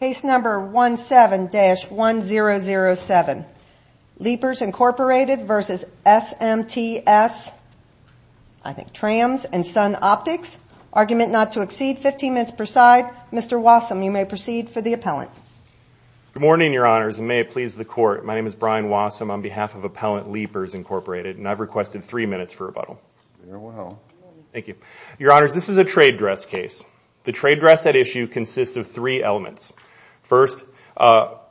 Case number 17-1007. Leapers Incorporated v. SMTS, I think TRAMS, and Sun Optics. Argument not to exceed 15 minutes per side. Mr. Wassum, you may proceed for the appellant. Good morning, Your Honors, and may it please the Court. My name is Brian Wassum on behalf of Appellant Leapers Incorporated, and I've requested three minutes for rebuttal. Thank you. Your Honors, this is a trade dress case. The trade dress at issue consists of three elements. First,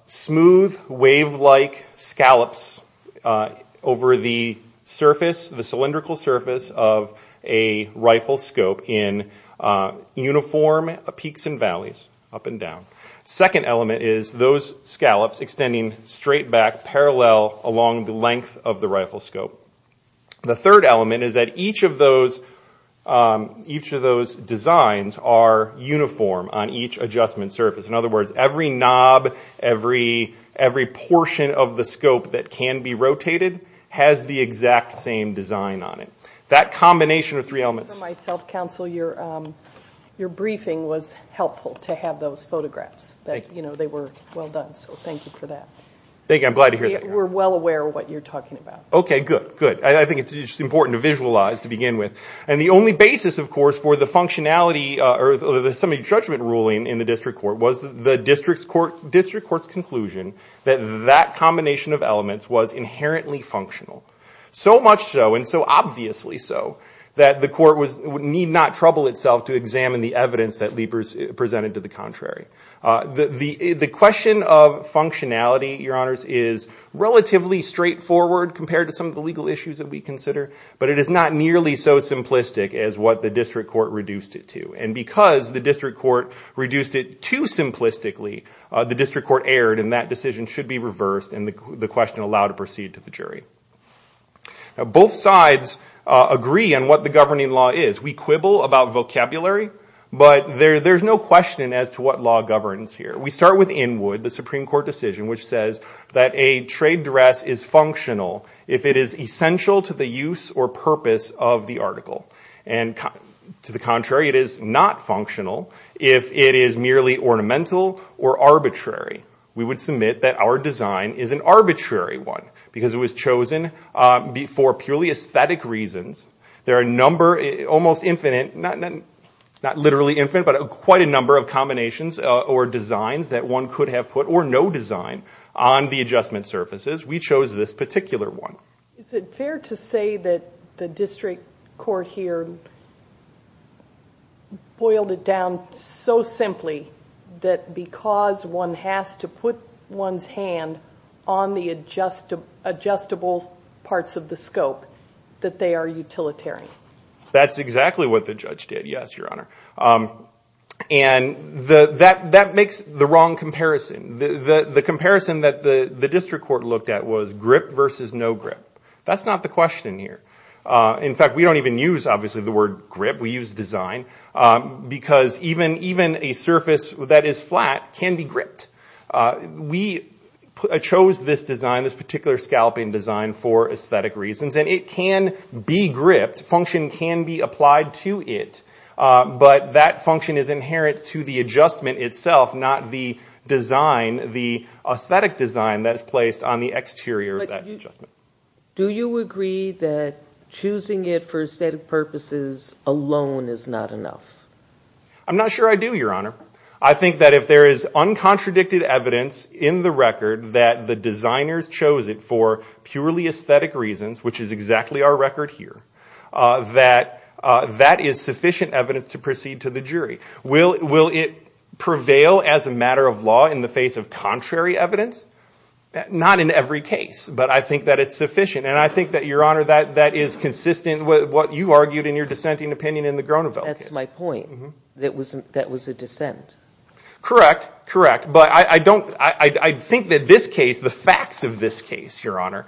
smooth, wave-like scallops over the cylindrical surface of a rifle scope in uniform peaks and valleys, up and down. Second element is those scallops extending straight back parallel along the length of the rifle scope. The third element is that each of those designs are uniform on each adjustment surface. In other words, every knob, every portion of the scope that can be rotated has the exact same design on it. That combination of three elements... For myself, Counsel, your briefing was helpful to have those photographs. Thank you. They were well done, so thank you for that. Thank you. I'm glad to hear that. We're well aware of what you're talking about. Okay, good, good. I think it's important to visualize to begin with. And the only basis, of course, for the functionality or the semi-judgment ruling in the District Court was the District Court's conclusion that that combination of elements was inherently functional. So much so, and so obviously so, that the Court need not trouble itself to examine the evidence that Leapers presented to the contrary. The question of functionality, Your Honors, is relatively straightforward compared to some of the legal issues that we consider, but it is not nearly so simplistic as what the District Court reduced it to. And because the District Court reduced it too simplistically, the District Court erred, and that decision should be reversed, and the question allowed to proceed to the jury. Both sides agree on what the governing law is. We quibble about vocabulary, but there's no question as to what law governs here. We start with Inwood, the Supreme Court decision, which says that a trade dress is functional if it is essential to the use or purpose of the article. And to the contrary, it is not functional if it is merely ornamental or arbitrary. We would submit that our design is an arbitrary one, because it was chosen for purely aesthetic reasons. There are a number, almost infinite, not literally infinite, but quite a number of combinations or designs that one could have put, or no design, on the adjustment surfaces. We chose this particular one. Is it fair to say that the District Court here boiled it down so simply, that because one has to put one's hand on the adjustable parts of the scope, that they are utilitarian? That's exactly what the judge did, yes, Your Honor. And that makes the wrong comparison. The comparison that the District Court looked at was grip versus no grip. That's not the question here. In fact, we don't even use, obviously, the word grip. We use design, because even a surface that is flat can be gripped. We chose this design, this particular scalping design, for aesthetic reasons. And it can be gripped. Function can be applied to it. But that function is inherent to the adjustment itself, not the design, the aesthetic design that is placed on the exterior of that adjustment. Do you agree that choosing it for aesthetic purposes alone is not enough? I'm not sure I do, Your Honor. I think that if there is uncontradicted evidence in the record that the designers chose it for purely aesthetic reasons, which is exactly our record here, that that is sufficient evidence to proceed to the jury. Will it prevail as a matter of law in the face of contrary evidence? Not in every case, but I think that it's sufficient. And I think that, Your Honor, that is consistent with what you argued in your dissenting opinion in the Gronovel case. That's my point, that was a dissent. Correct, correct. But I don't, I think that this case, the facts of this case, Your Honor,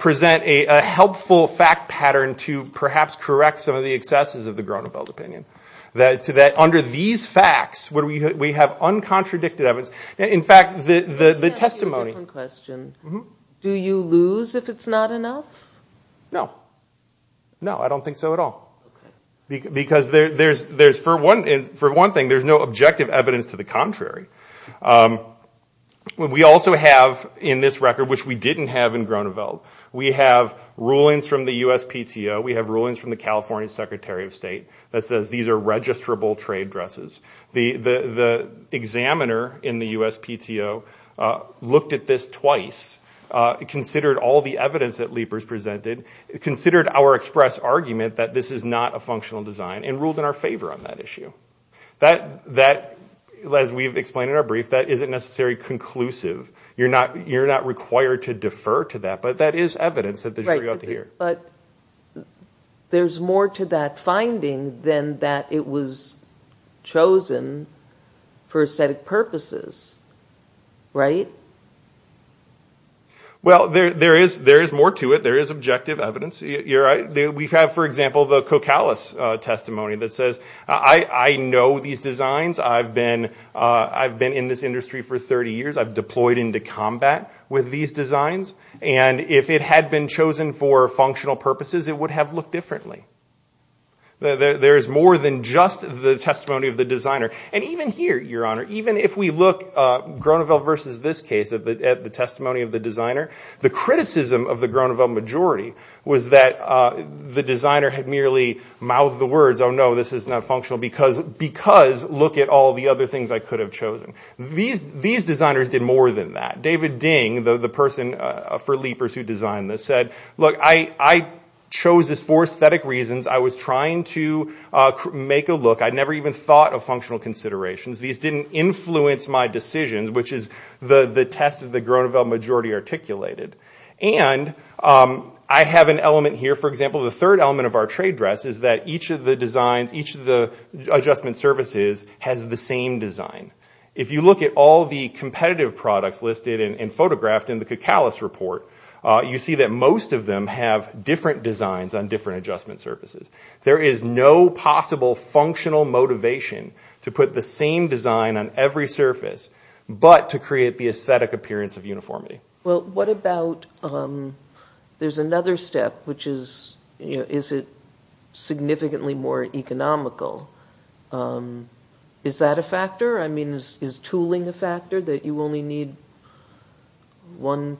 present a helpful fact pattern to perhaps correct some of the excesses of the Gronovel opinion. That under these facts, we have uncontradicted evidence. In fact, the testimony. Let me ask you a different question. Do you lose if it's not enough? No. No, I don't think so at all. Because there's, for one thing, there's no objective evidence to the contrary. We also have in this record, which we didn't have in Gronovel, we have rulings from the USPTO, we have rulings from the California Secretary of State that says these are registrable trade dresses. The examiner in the USPTO looked at this twice, considered all the evidence that Leepers presented, considered our express argument that this is not a functional design, and ruled in our favor on that issue. That, as we've explained in our brief, that isn't necessarily conclusive. You're not required to defer to that, but that is evidence that the jury ought to hear. Right, but there's more to that finding than that it was chosen for aesthetic purposes, right? Well, there is more to it. There is objective evidence. We have, for example, the Cocalis testimony that says I know these designs. I've been in this industry for 30 years. I've deployed into combat with these designs. And if it had been chosen for functional purposes, it would have looked differently. There is more than just the testimony of the designer. And even here, Your Honor, even if we look, Gronovel versus this case, at the testimony of the designer, the criticism of the Gronovel majority was that the designer had merely mouthed the words, oh, no, this is not functional because look at all the other things I could have chosen. These designers did more than that. David Ding, the person for Leepers who designed this, said, look, I chose this for aesthetic reasons. I was trying to make a look. I never even thought of functional considerations. These didn't influence my decisions, which is the test that the Gronovel majority articulated. And I have an element here. For example, the third element of our trade dress is that each of the designs, each of the adjustment surfaces has the same design. If you look at all the competitive products listed and photographed in the Cocalis report, you see that most of them have different designs on different adjustment surfaces. There is no possible functional motivation to put the same design on every surface but to create the aesthetic appearance of uniformity. Well, what about there's another step, which is, you know, is it significantly more economical? Is that a factor? I mean, is tooling a factor that you only need one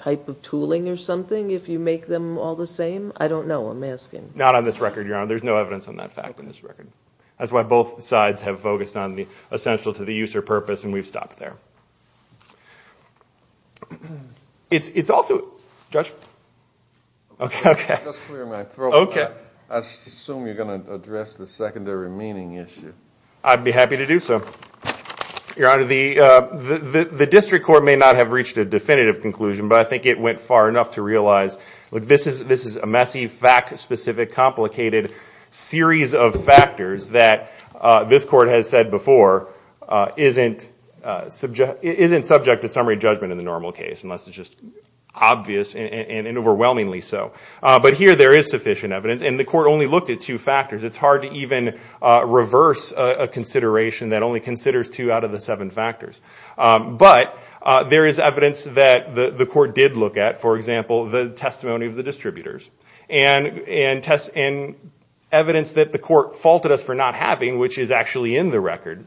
type of tooling or something if you make them all the same? I don't know. I'm asking. Not on this record, Your Honor. There's no evidence on that fact on this record. That's why both sides have focused on the essential to the use or purpose, and we've stopped there. It's also, Judge? Just clear my throat. I assume you're going to address the secondary meaning issue. I'd be happy to do so. Your Honor, the district court may not have reached a definitive conclusion, but I think it went far enough to realize this is a messy, fact-specific, complicated series of factors that this court has said before isn't subject to summary judgment in the normal case, unless it's just obvious and overwhelmingly so. But here there is sufficient evidence, and the court only looked at two factors. It's hard to even reverse a consideration that only considers two out of the seven factors. But there is evidence that the court did look at, for example, the testimony of the distributors, and evidence that the court faulted us for not having, which is actually in the record,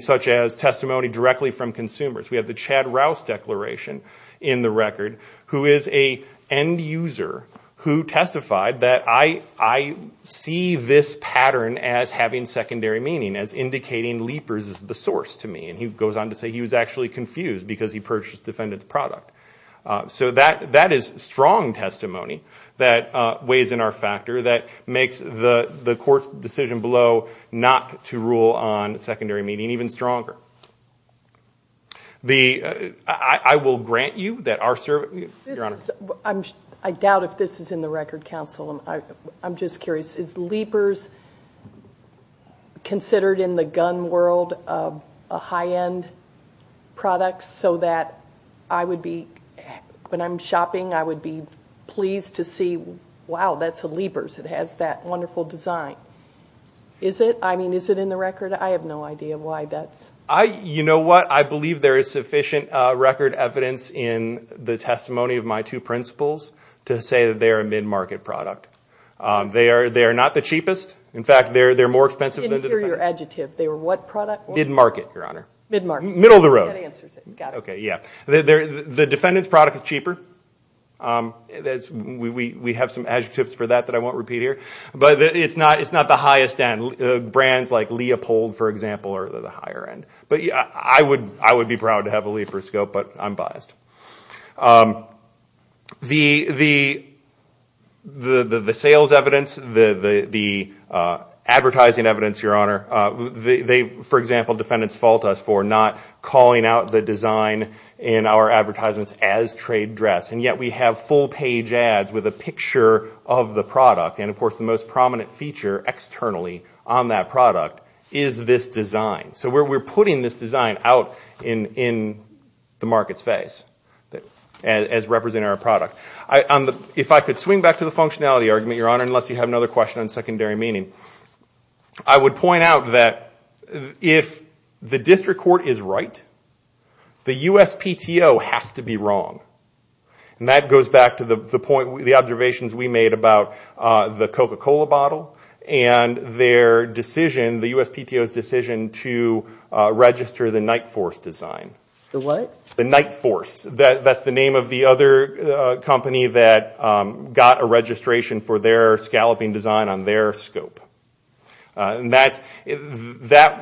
such as testimony directly from consumers. We have the Chad Rouse declaration in the record, who is an end user who testified that I see this pattern as having secondary meaning, as indicating Leapers is the source to me. And he goes on to say he was actually confused because he purchased the defendant's product. So that is strong testimony that weighs in our factor, that makes the court's decision below not to rule on secondary meaning even stronger. I will grant you that our service, Your Honor. I doubt if this is in the record, counsel. I'm just curious. Is Leapers considered in the gun world a high-end product so that I would be, when I'm shopping, I would be pleased to see, wow, that's a Leapers. It has that wonderful design. Is it? I mean, is it in the record? I have no idea why that's. You know what? I believe there is sufficient record evidence in the testimony of my two principals to say that they are a mid-market product. They are not the cheapest. In fact, they're more expensive than the defendants. I didn't hear your adjective. They were what product? Mid-market, Your Honor. Mid-market. Middle of the road. That answers it. Got it. Okay, yeah. The defendant's product is cheaper. We have some adjectives for that that I won't repeat here. But it's not the highest end. Brands like Leopold, for example, are the higher end. But I would be proud to have a Leapers scope, but I'm biased. The sales evidence, the advertising evidence, Your Honor, they, for example, defendants fault us for not calling out the design in our advertisements as trade dress. And yet we have full page ads with a picture of the product. And, of course, the most prominent feature externally on that product is this design. So we're putting this design out in the market's face as representing our product. If I could swing back to the functionality argument, Your Honor, unless you have another question on secondary meaning, I would point out that if the district court is right, the USPTO has to be wrong. And that goes back to the observations we made about the Coca-Cola bottle and their decision, the USPTO's decision to register the Nightforce design. The what? The Nightforce. That's the name of the other company that got a registration for their scalloping design on their scope. And that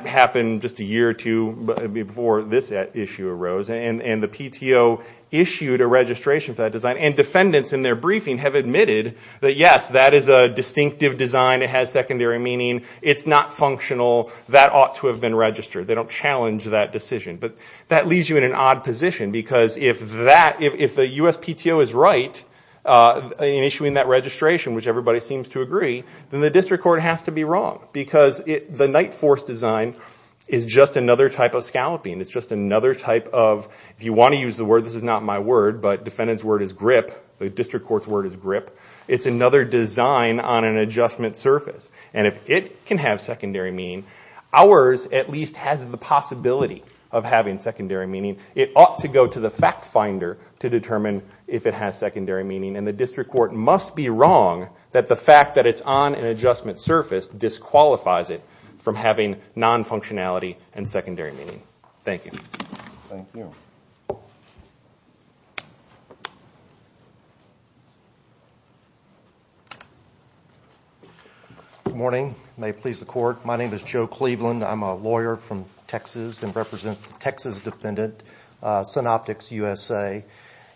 happened just a year or two before this issue arose. And the PTO issued a registration for that design. And defendants in their briefing have admitted that, yes, that is a distinctive design. It has secondary meaning. It's not functional. That ought to have been registered. They don't challenge that decision. But that leaves you in an odd position because if the USPTO is right in issuing that registration, which everybody seems to agree, then the district court has to be wrong because the Nightforce design is just another type of scalloping. It's just another type of, if you want to use the word, this is not my word, but defendant's word is grip, the district court's word is grip. It's another design on an adjustment surface. And if it can have secondary meaning, ours at least has the possibility of having secondary meaning. It ought to go to the fact finder to determine if it has secondary meaning. And the district court must be wrong that the fact that it's on an adjustment surface disqualifies it from having non-functionality and secondary meaning. Thank you. Thank you. Good morning. May it please the court. My name is Joe Cleveland. I'm a lawyer from Texas and represent the Texas defendant, Synoptics USA.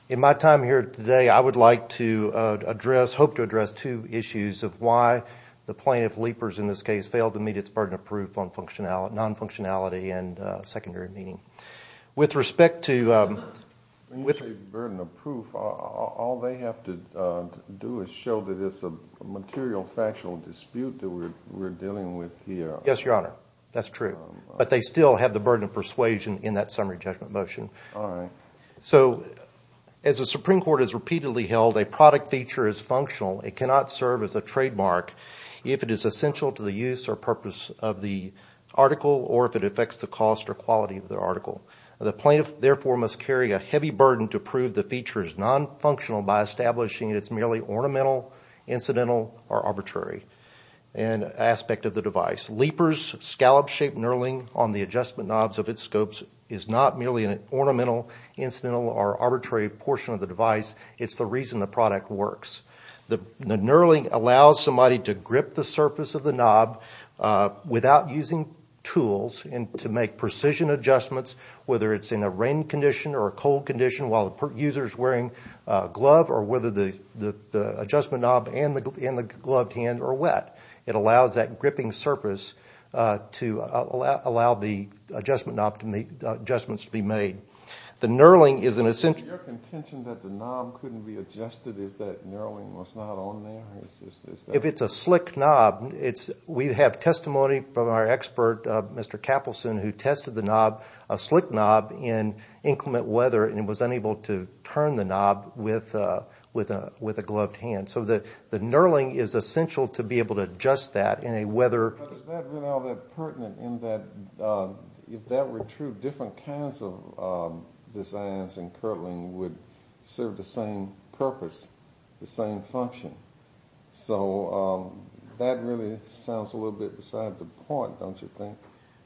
In my time here today, I would like to address, hope to address, two issues of why the plaintiff, Leapers in this case, has failed to meet its burden of proof on non-functionality and secondary meaning. With respect to burden of proof, all they have to do is show that it's a material factional dispute that we're dealing with here. Yes, Your Honor. That's true. But they still have the burden of persuasion in that summary judgment motion. All right. So as the Supreme Court has repeatedly held, a product feature is functional. It cannot serve as a trademark if it is essential to the use or purpose of the article or if it affects the cost or quality of the article. The plaintiff, therefore, must carry a heavy burden to prove the feature is non-functional by establishing it's merely ornamental, incidental, or arbitrary aspect of the device. Leapers' scallop-shaped knurling on the adjustment knobs of its scopes is not merely an ornamental, incidental, or arbitrary portion of the device. It's the reason the product works. The knurling allows somebody to grip the surface of the knob without using tools and to make precision adjustments, whether it's in a rain condition or a cold condition while the user is wearing a glove or whether the adjustment knob and the gloved hand are wet. It allows that gripping surface to allow the adjustments to be made. The knurling is an essential... Is it your contention that the knob couldn't be adjusted if that knurling was not on there? If it's a slick knob, we have testimony from our expert, Mr. Capelson, who tested the knob, a slick knob, in inclement weather and was unable to turn the knob with a gloved hand. So the knurling is essential to be able to adjust that in a weather... But is that really all that pertinent in that if that were true, different kinds of designs in knurling would serve the same purpose, the same function? So that really sounds a little bit beside the point, don't you think?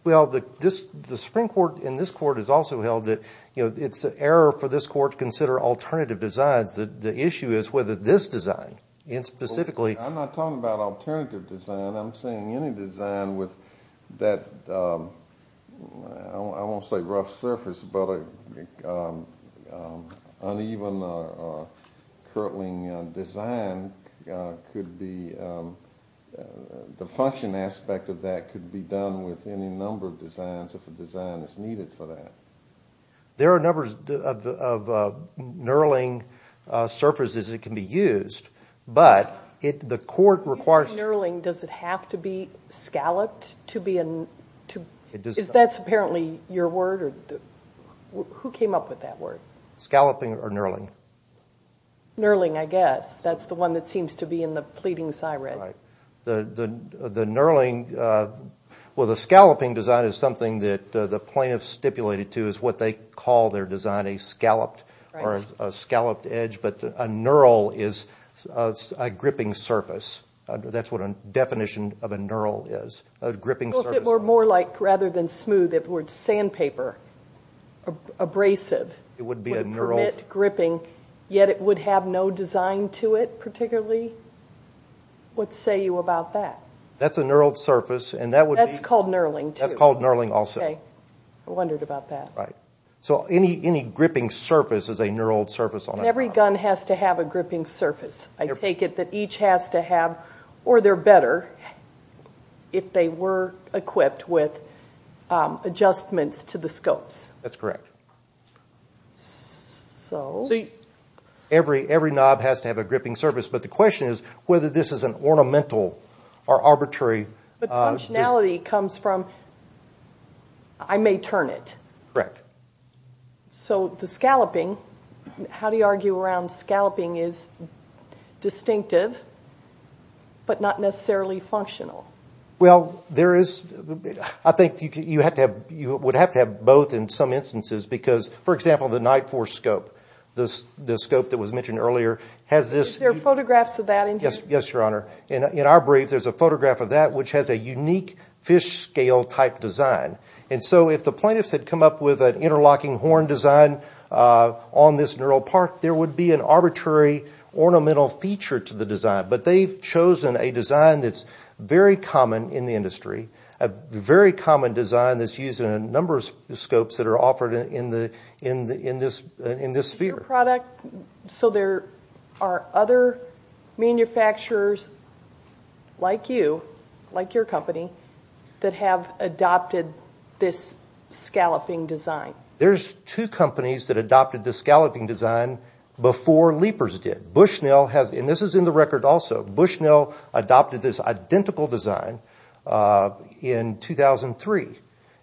Well, the Supreme Court in this Court has also held that it's an error for this Court to consider alternative designs. The issue is whether this design, and specifically... This design with that, I won't say rough surface, but uneven or curdling design could be... The function aspect of that could be done with any number of designs if a design is needed for that. There are numbers of knurling surfaces that can be used, but the Court requires... Is that apparently your word? Who came up with that word? Scalloping or knurling? Knurling, I guess. That's the one that seems to be in the pleading siren. Right. The knurling... Well, the scalloping design is something that the plaintiffs stipulated to is what they call their design, a scalloped or a scalloped edge, but a knurl is a gripping surface. That's what a definition of a knurl is, a gripping surface. Well, if it were more like, rather than smooth, if it were sandpaper, abrasive... It would be a knurled... It would permit gripping, yet it would have no design to it particularly. What say you about that? That's a knurled surface, and that would be... That's called knurling, too. That's called knurling also. Okay. I wondered about that. Right. So any gripping surface is a knurled surface on a gun. And every gun has to have a gripping surface. I take it that each has to have, or they're better, if they were equipped with adjustments to the scopes. That's correct. So... Every knob has to have a gripping surface, but the question is whether this is an ornamental or arbitrary... But functionality comes from, I may turn it. Correct. So the scalloping, how do you argue around scalloping is distinctive but not necessarily functional? Well, there is... I think you would have to have both in some instances, because, for example, the Night Force scope, the scope that was mentioned earlier, has this... Is there photographs of that in here? Yes, Your Honor. In our brief, there's a photograph of that, which has a unique fish-scale type design. And so if the plaintiffs had come up with an interlocking horn design on this knurled part, there would be an arbitrary ornamental feature to the design. But they've chosen a design that's very common in the industry, a very common design that's used in a number of scopes that are offered in this sphere. So there are other manufacturers like you, like your company, that have adopted this scalloping design? There's two companies that adopted the scalloping design before Leapers did. Bushnell has... And this is in the record also. Bushnell adopted this identical design in 2003.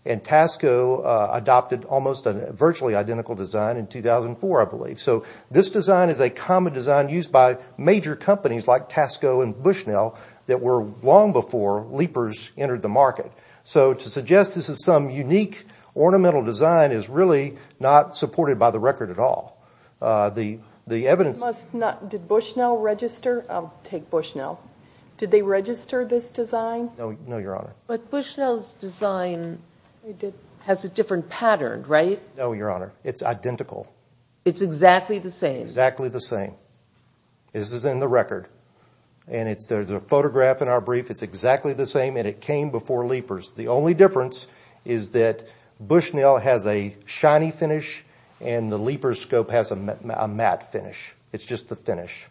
And Tasco adopted almost a virtually identical design in 2004, I believe. So this design is a common design used by major companies like Tasco and Bushnell that were long before Leapers entered the market. So to suggest this is some unique ornamental design is really not supported by the record at all. The evidence... Did Bushnell register? I'll take Bushnell. Did they register this design? No, Your Honor. But Bushnell's design has a different pattern, right? No, Your Honor. It's identical. It's exactly the same? Exactly the same. This is in the record. And there's a photograph in our brief. It's exactly the same, and it came before Leapers. The only difference is that Bushnell has a shiny finish and the Leapers scope has a matte finish. It's just the finish.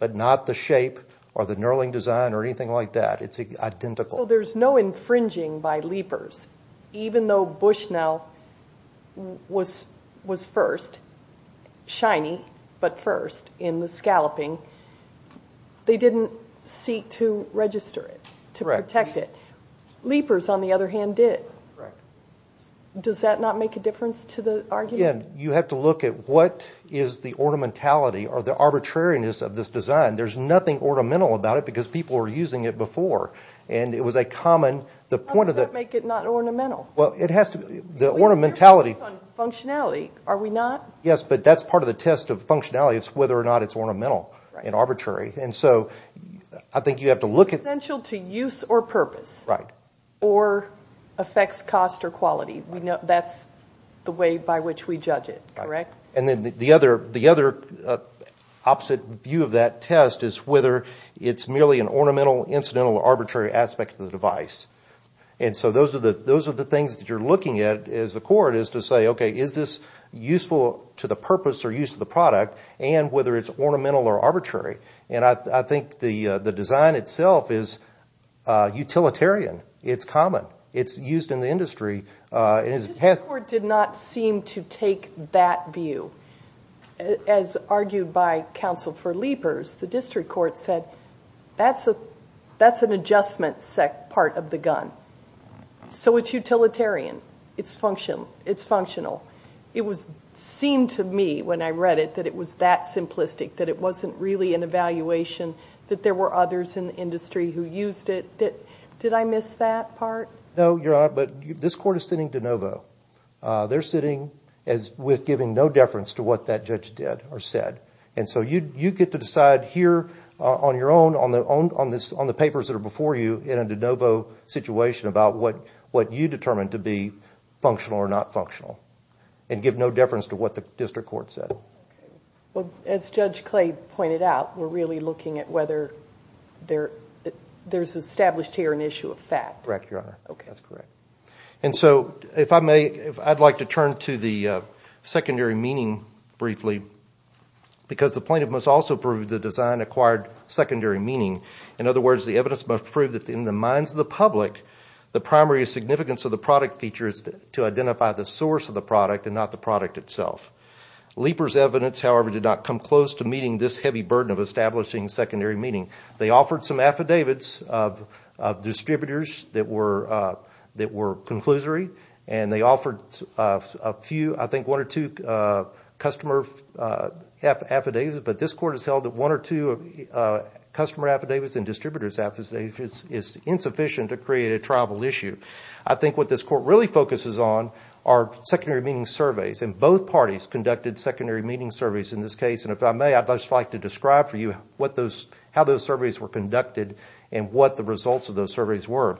But not the shape or the knurling design or anything like that. It's identical. So there's no infringing by Leapers, even though Bushnell was first. Shiny, but first in the scalloping. They didn't seek to register it, to protect it. Leapers, on the other hand, did. Does that not make a difference to the argument? You have to look at what is the ornamentality or the arbitrariness of this design. There's nothing ornamental about it because people were using it before. And it was a common... How does that make it not ornamental? Well, it has to be. The ornamentality... You're focusing on functionality, are we not? Yes, but that's part of the test of functionality. It's whether or not it's ornamental and arbitrary. And so I think you have to look at... Essential to use or purpose. Right. Or affects cost or quality. That's the way by which we judge it, correct? And then the other opposite view of that test is whether it's merely an ornamental, incidental, or arbitrary aspect of the device. And so those are the things that you're looking at as a court, is to say, okay, is this useful to the purpose or use of the product, and whether it's ornamental or arbitrary. And I think the design itself is utilitarian. It's common. It's used in the industry. The district court did not seem to take that view. As argued by counsel for Leapers, the district court said that's an adjustment part of the gun. So it's utilitarian. It's functional. It seemed to me when I read it that it was that simplistic, that it wasn't really an evaluation, that there were others in the industry who used it. Did I miss that part? No, Your Honor, but this court is sitting de novo. They're sitting with giving no deference to what that judge did or said. And so you get to decide here on your own, on the papers that are before you, in a de novo situation about what you determined to be functional or not functional, and give no deference to what the district court said. Well, as Judge Clay pointed out, we're really looking at whether there's established here an issue of fact. Correct, Your Honor. Okay. That's correct. And so if I may, I'd like to turn to the secondary meaning briefly, because the plaintiff must also prove the design acquired secondary meaning. In other words, the evidence must prove that in the minds of the public, the primary significance of the product features to identify the source of the product and not the product itself. Leapers' evidence, however, did not come close to meeting this heavy burden of establishing secondary meaning. They offered some affidavits of distributors that were, that were conclusory, and they offered a few, I think one or two customer affidavits, but this court has held that one or two customer affidavits and distributors affidavits is insufficient to create a tribal issue. I think what this court really focuses on are secondary meaning surveys, and both parties conducted secondary meaning surveys in this case. And if I may, I'd just like to describe for you what those, how those surveys were conducted and what the results of those surveys were.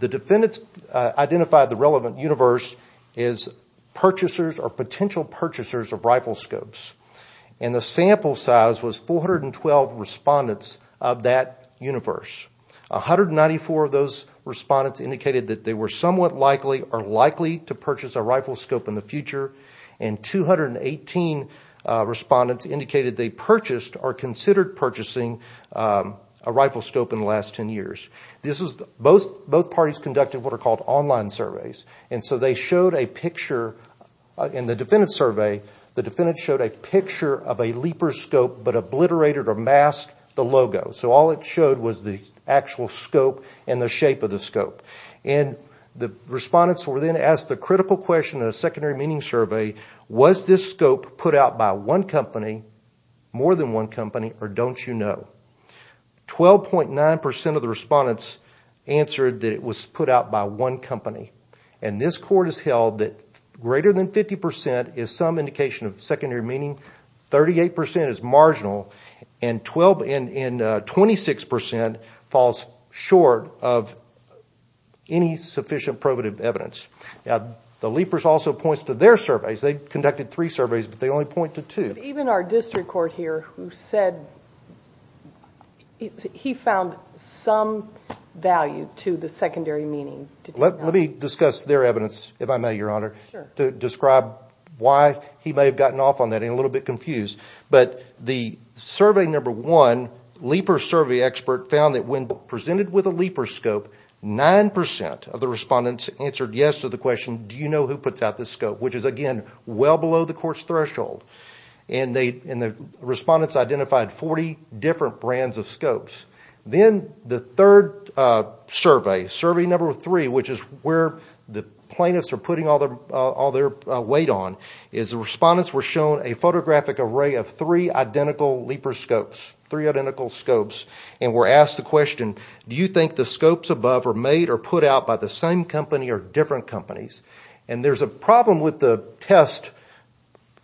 The defendants identified the relevant universe is purchasers or potential purchasers of rifle scopes. And the sample size was 412 respondents of that universe. 194 of those respondents indicated that they were somewhat likely or likely to purchase a rifle scope in the future. And 218 respondents indicated they purchased or considered purchasing a rifle scope in the last 10 years. This is, both parties conducted what are called online surveys. And so they showed a picture, in the defendant's survey, the defendant showed a picture of a leaper scope, but obliterated or masked the logo. So all it showed was the actual scope and the shape of the scope. And the respondents were then asked the critical question in a secondary meaning survey, was this scope put out by one company, more than one company, or don't you know? 12.9% of the respondents answered that it was put out by one company. And this court has held that greater than 50% is some indication of secondary meaning, 38% is marginal, and 26% falls short of any sufficient probative evidence. Now, the leapers also points to their surveys. They conducted three surveys, but they only point to two. Even our district court here who said he found some value to the secondary meaning. Let me discuss their evidence, if I may, Your Honor, to describe why he may have gotten off on that and a little bit confused. But the survey number one, leaper survey expert, found that when presented with a leaper scope, 9% of the respondents answered yes to the question, do you know who puts out this scope? Which is, again, well below the court's threshold. And the respondents identified 40 different brands of scopes. Then the third survey, survey number three, which is where the plaintiffs are putting all their weight on, is the respondents were shown a photographic array of three identical Do you think the scopes above are made or put out by the same company or different companies? And there's a problem with the test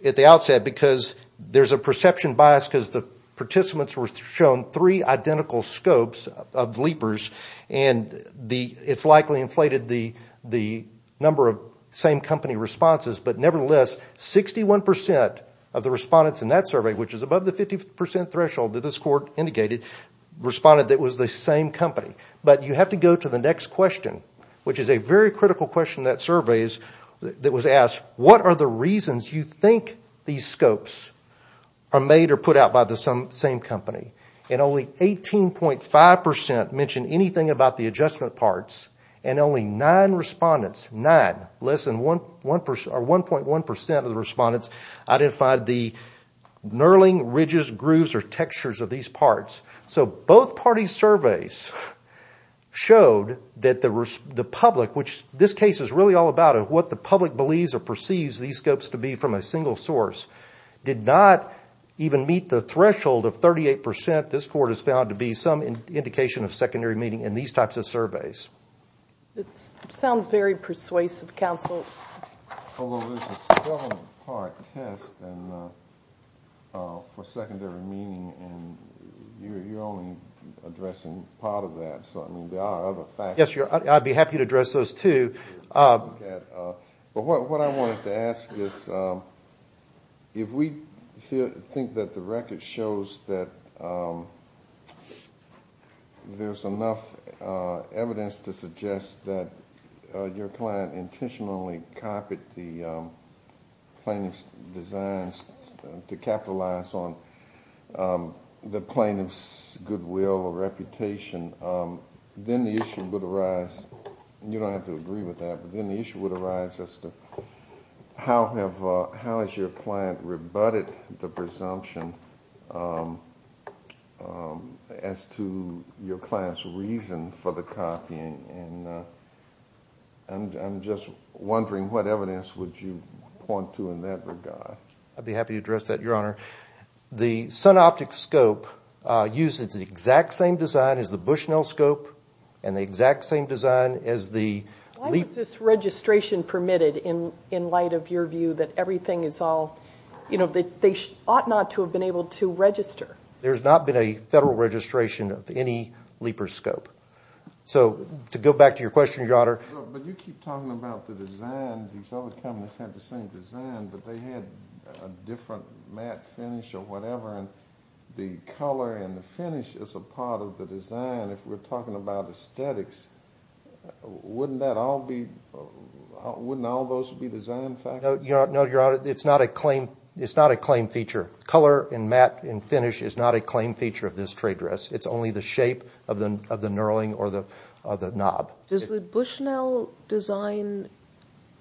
at the outset, because there's a perception bias because the participants were shown three identical scopes of leapers, and it's likely inflated the number of same company responses. But nevertheless, 61% of the respondents in that survey, which is above the 50% threshold that this court indicated, responded that it was the same company. But you have to go to the next question, which is a very critical question in that survey, that was asked, what are the reasons you think these scopes are made or put out by the same company? And only 18.5% mentioned anything about the adjustment parts, and only nine respondents, nine, less than 1.1% of the respondents identified the knurling, ridges, grooves, or textures of these parts. So both parties' surveys showed that the public, which this case is really all about, what the public believes or perceives these scopes to be from a single source, did not even meet the threshold of 38%. This court has found to be some indication of secondary meaning It sounds very persuasive, counsel. Although there's a seven-part test for secondary meaning, and you're only addressing part of that, so there are other factors. Yes, I'd be happy to address those too. But what I wanted to ask is, if we think that the record shows that there's enough evidence to suggest that your client intentionally copied the plaintiff's designs to capitalize on the plaintiff's goodwill or reputation, then the issue would arise, and you don't have to agree with that, but then the issue would arise as to how has your client rebutted the presumption as to your client's reason for the copying. And I'm just wondering what evidence would you point to in that regard? I'd be happy to address that, Your Honor. The SunOptic scope uses the exact same design as the Bushnell scope, and the exact same design as the... Why was this registration permitted in light of your view that everything is all... They ought not to have been able to register. There's not been a federal registration of any Leeper scope. So to go back to your question, Your Honor... But you keep talking about the design. These other companies had the same design, but they had a different matte finish or whatever, and the color and the finish is a part of the design. If we're talking about aesthetics, wouldn't all those be design factors? No, Your Honor, it's not a claim feature. Color and matte and finish is not a claim feature of this trade dress. It's only the shape of the knurling or the knob. Does the Bushnell design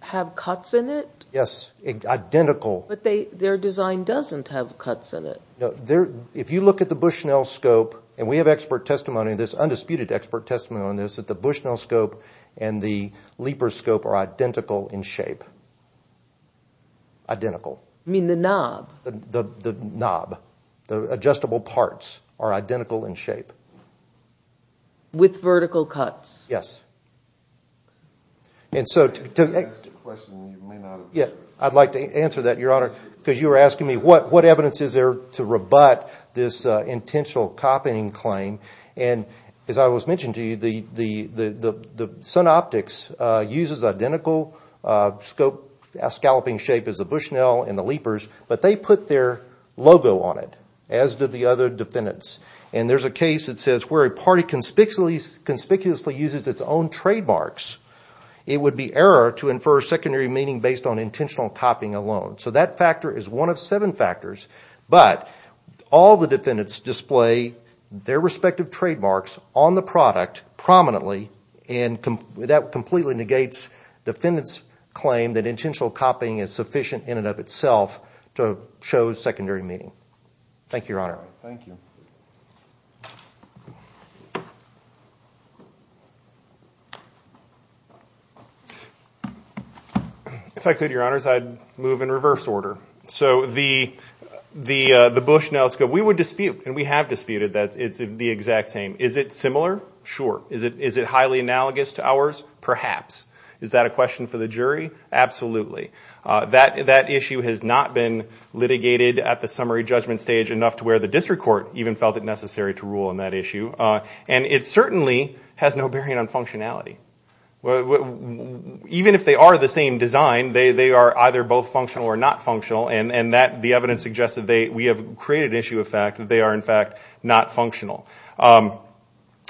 have cuts in it? Yes, identical. But their design doesn't have cuts in it. If you look at the Bushnell scope, and we have expert testimony on this, undisputed expert testimony on this, that the Bushnell scope and the Leeper scope are identical in shape. Identical. You mean the knob? The knob. The adjustable parts are identical in shape. With vertical cuts? Yes. And so... That's a question you may not... I'd like to answer that, Your Honor, because you were asking me what evidence is there to rebut this intentional copying claim. And as I was mentioning to you, the Sun Optics uses identical scalping shape as the Bushnell and the Leepers, but they put their logo on it, as did the other defendants. And there's a case that says, where a party conspicuously uses its own trademarks, it would be error to infer secondary meaning based on intentional copying alone. So that factor is one of seven factors. But all the defendants display their respective trademarks on the product prominently, and that completely negates defendants' claim that intentional copying is sufficient in and of itself to show secondary meaning. Thank you, Your Honor. Thank you. If I could, Your Honors, I'd move in reverse order. So the Bushnell scope, we would dispute, and we have disputed, that it's the exact same. Is it similar? Sure. Is it highly analogous to ours? Perhaps. Is that a question for the jury? Absolutely. That issue has not been litigated at the summary judgment stage enough to where the district court even felt it necessary to rule on that issue. And it certainly has no bearing on functionality. Even if they are the same design, they are either both functional or not functional, and the evidence suggests that we have created an issue of fact, that they are, in fact, not functional.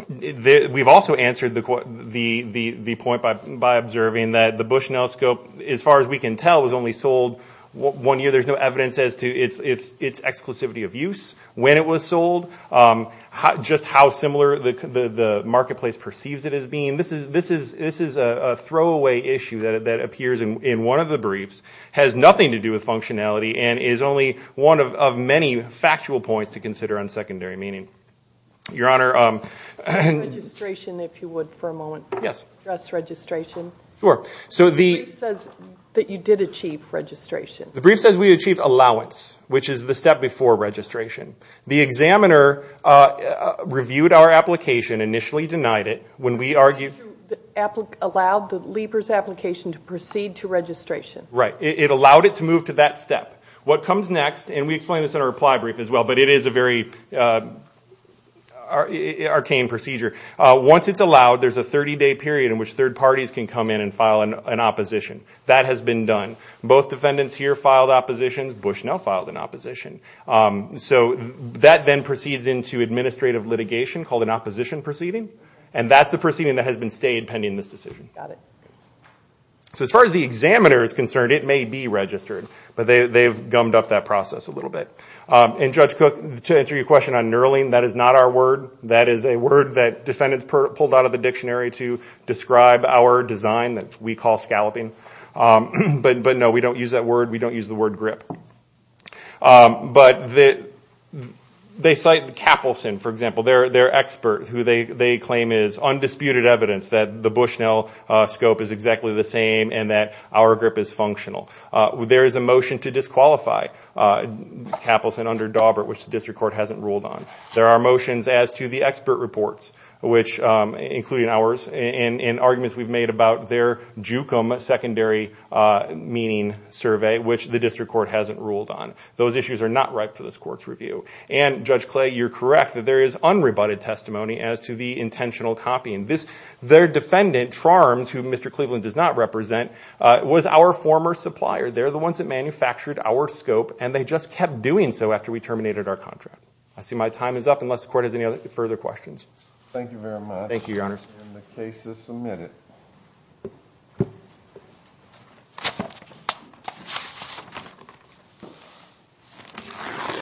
We've also answered the point by observing that the Bushnell scope, as far as we can tell, was only sold one year. There's no evidence as to its exclusivity of use, when it was sold, just how similar the marketplace perceives it as being. This is a throwaway issue that appears in one of the briefs, has nothing to do with functionality, and is only one of many factual points to consider on secondary meaning. Your Honor. Registration, if you would, for a moment. Yes. Just registration. Sure. The brief says that you did achieve registration. The brief says we achieved allowance, which is the step before registration. The examiner reviewed our application, initially denied it, when we argued. It allowed the leaper's application to proceed to registration. Right. It allowed it to move to that step. What comes next, and we explain this in our reply brief as well, but it is a very arcane procedure. Once it's allowed, there's a 30-day period in which third parties can come in and file an opposition. That has been done. Both defendants here filed oppositions. Bushnell filed an opposition. So that then proceeds into administrative litigation, called an opposition proceeding. That's the proceeding that has been stayed pending this decision. Got it. As far as the examiner is concerned, it may be registered, but they've gummed up that process a little bit. Judge Cook, to answer your question on knurling, that is not our word. That is a word that defendants pulled out of the dictionary to describe our design that we call scalloping. But, no, we don't use that word. We don't use the word grip. But they cite Capleson, for example. Their expert, who they claim is undisputed evidence that the Bushnell scope is exactly the same and that our grip is functional. There is a motion to disqualify Capleson under Dawbert, which the district court hasn't ruled on. There are motions as to the expert reports, including ours, and arguments we've made about their JUCM, secondary meaning survey, which the district court hasn't ruled on. Those issues are not ripe for this court's review. And, Judge Clay, you're correct that there is unrebutted testimony as to the intentional copying. Their defendant, Charms, who Mr. Cleveland does not represent, was our former supplier. They're the ones that manufactured our scope, and they just kept doing so after we terminated our contract. I see my time is up, unless the court has any further questions. Thank you very much. Thank you, Your Honor. And the case is submitted.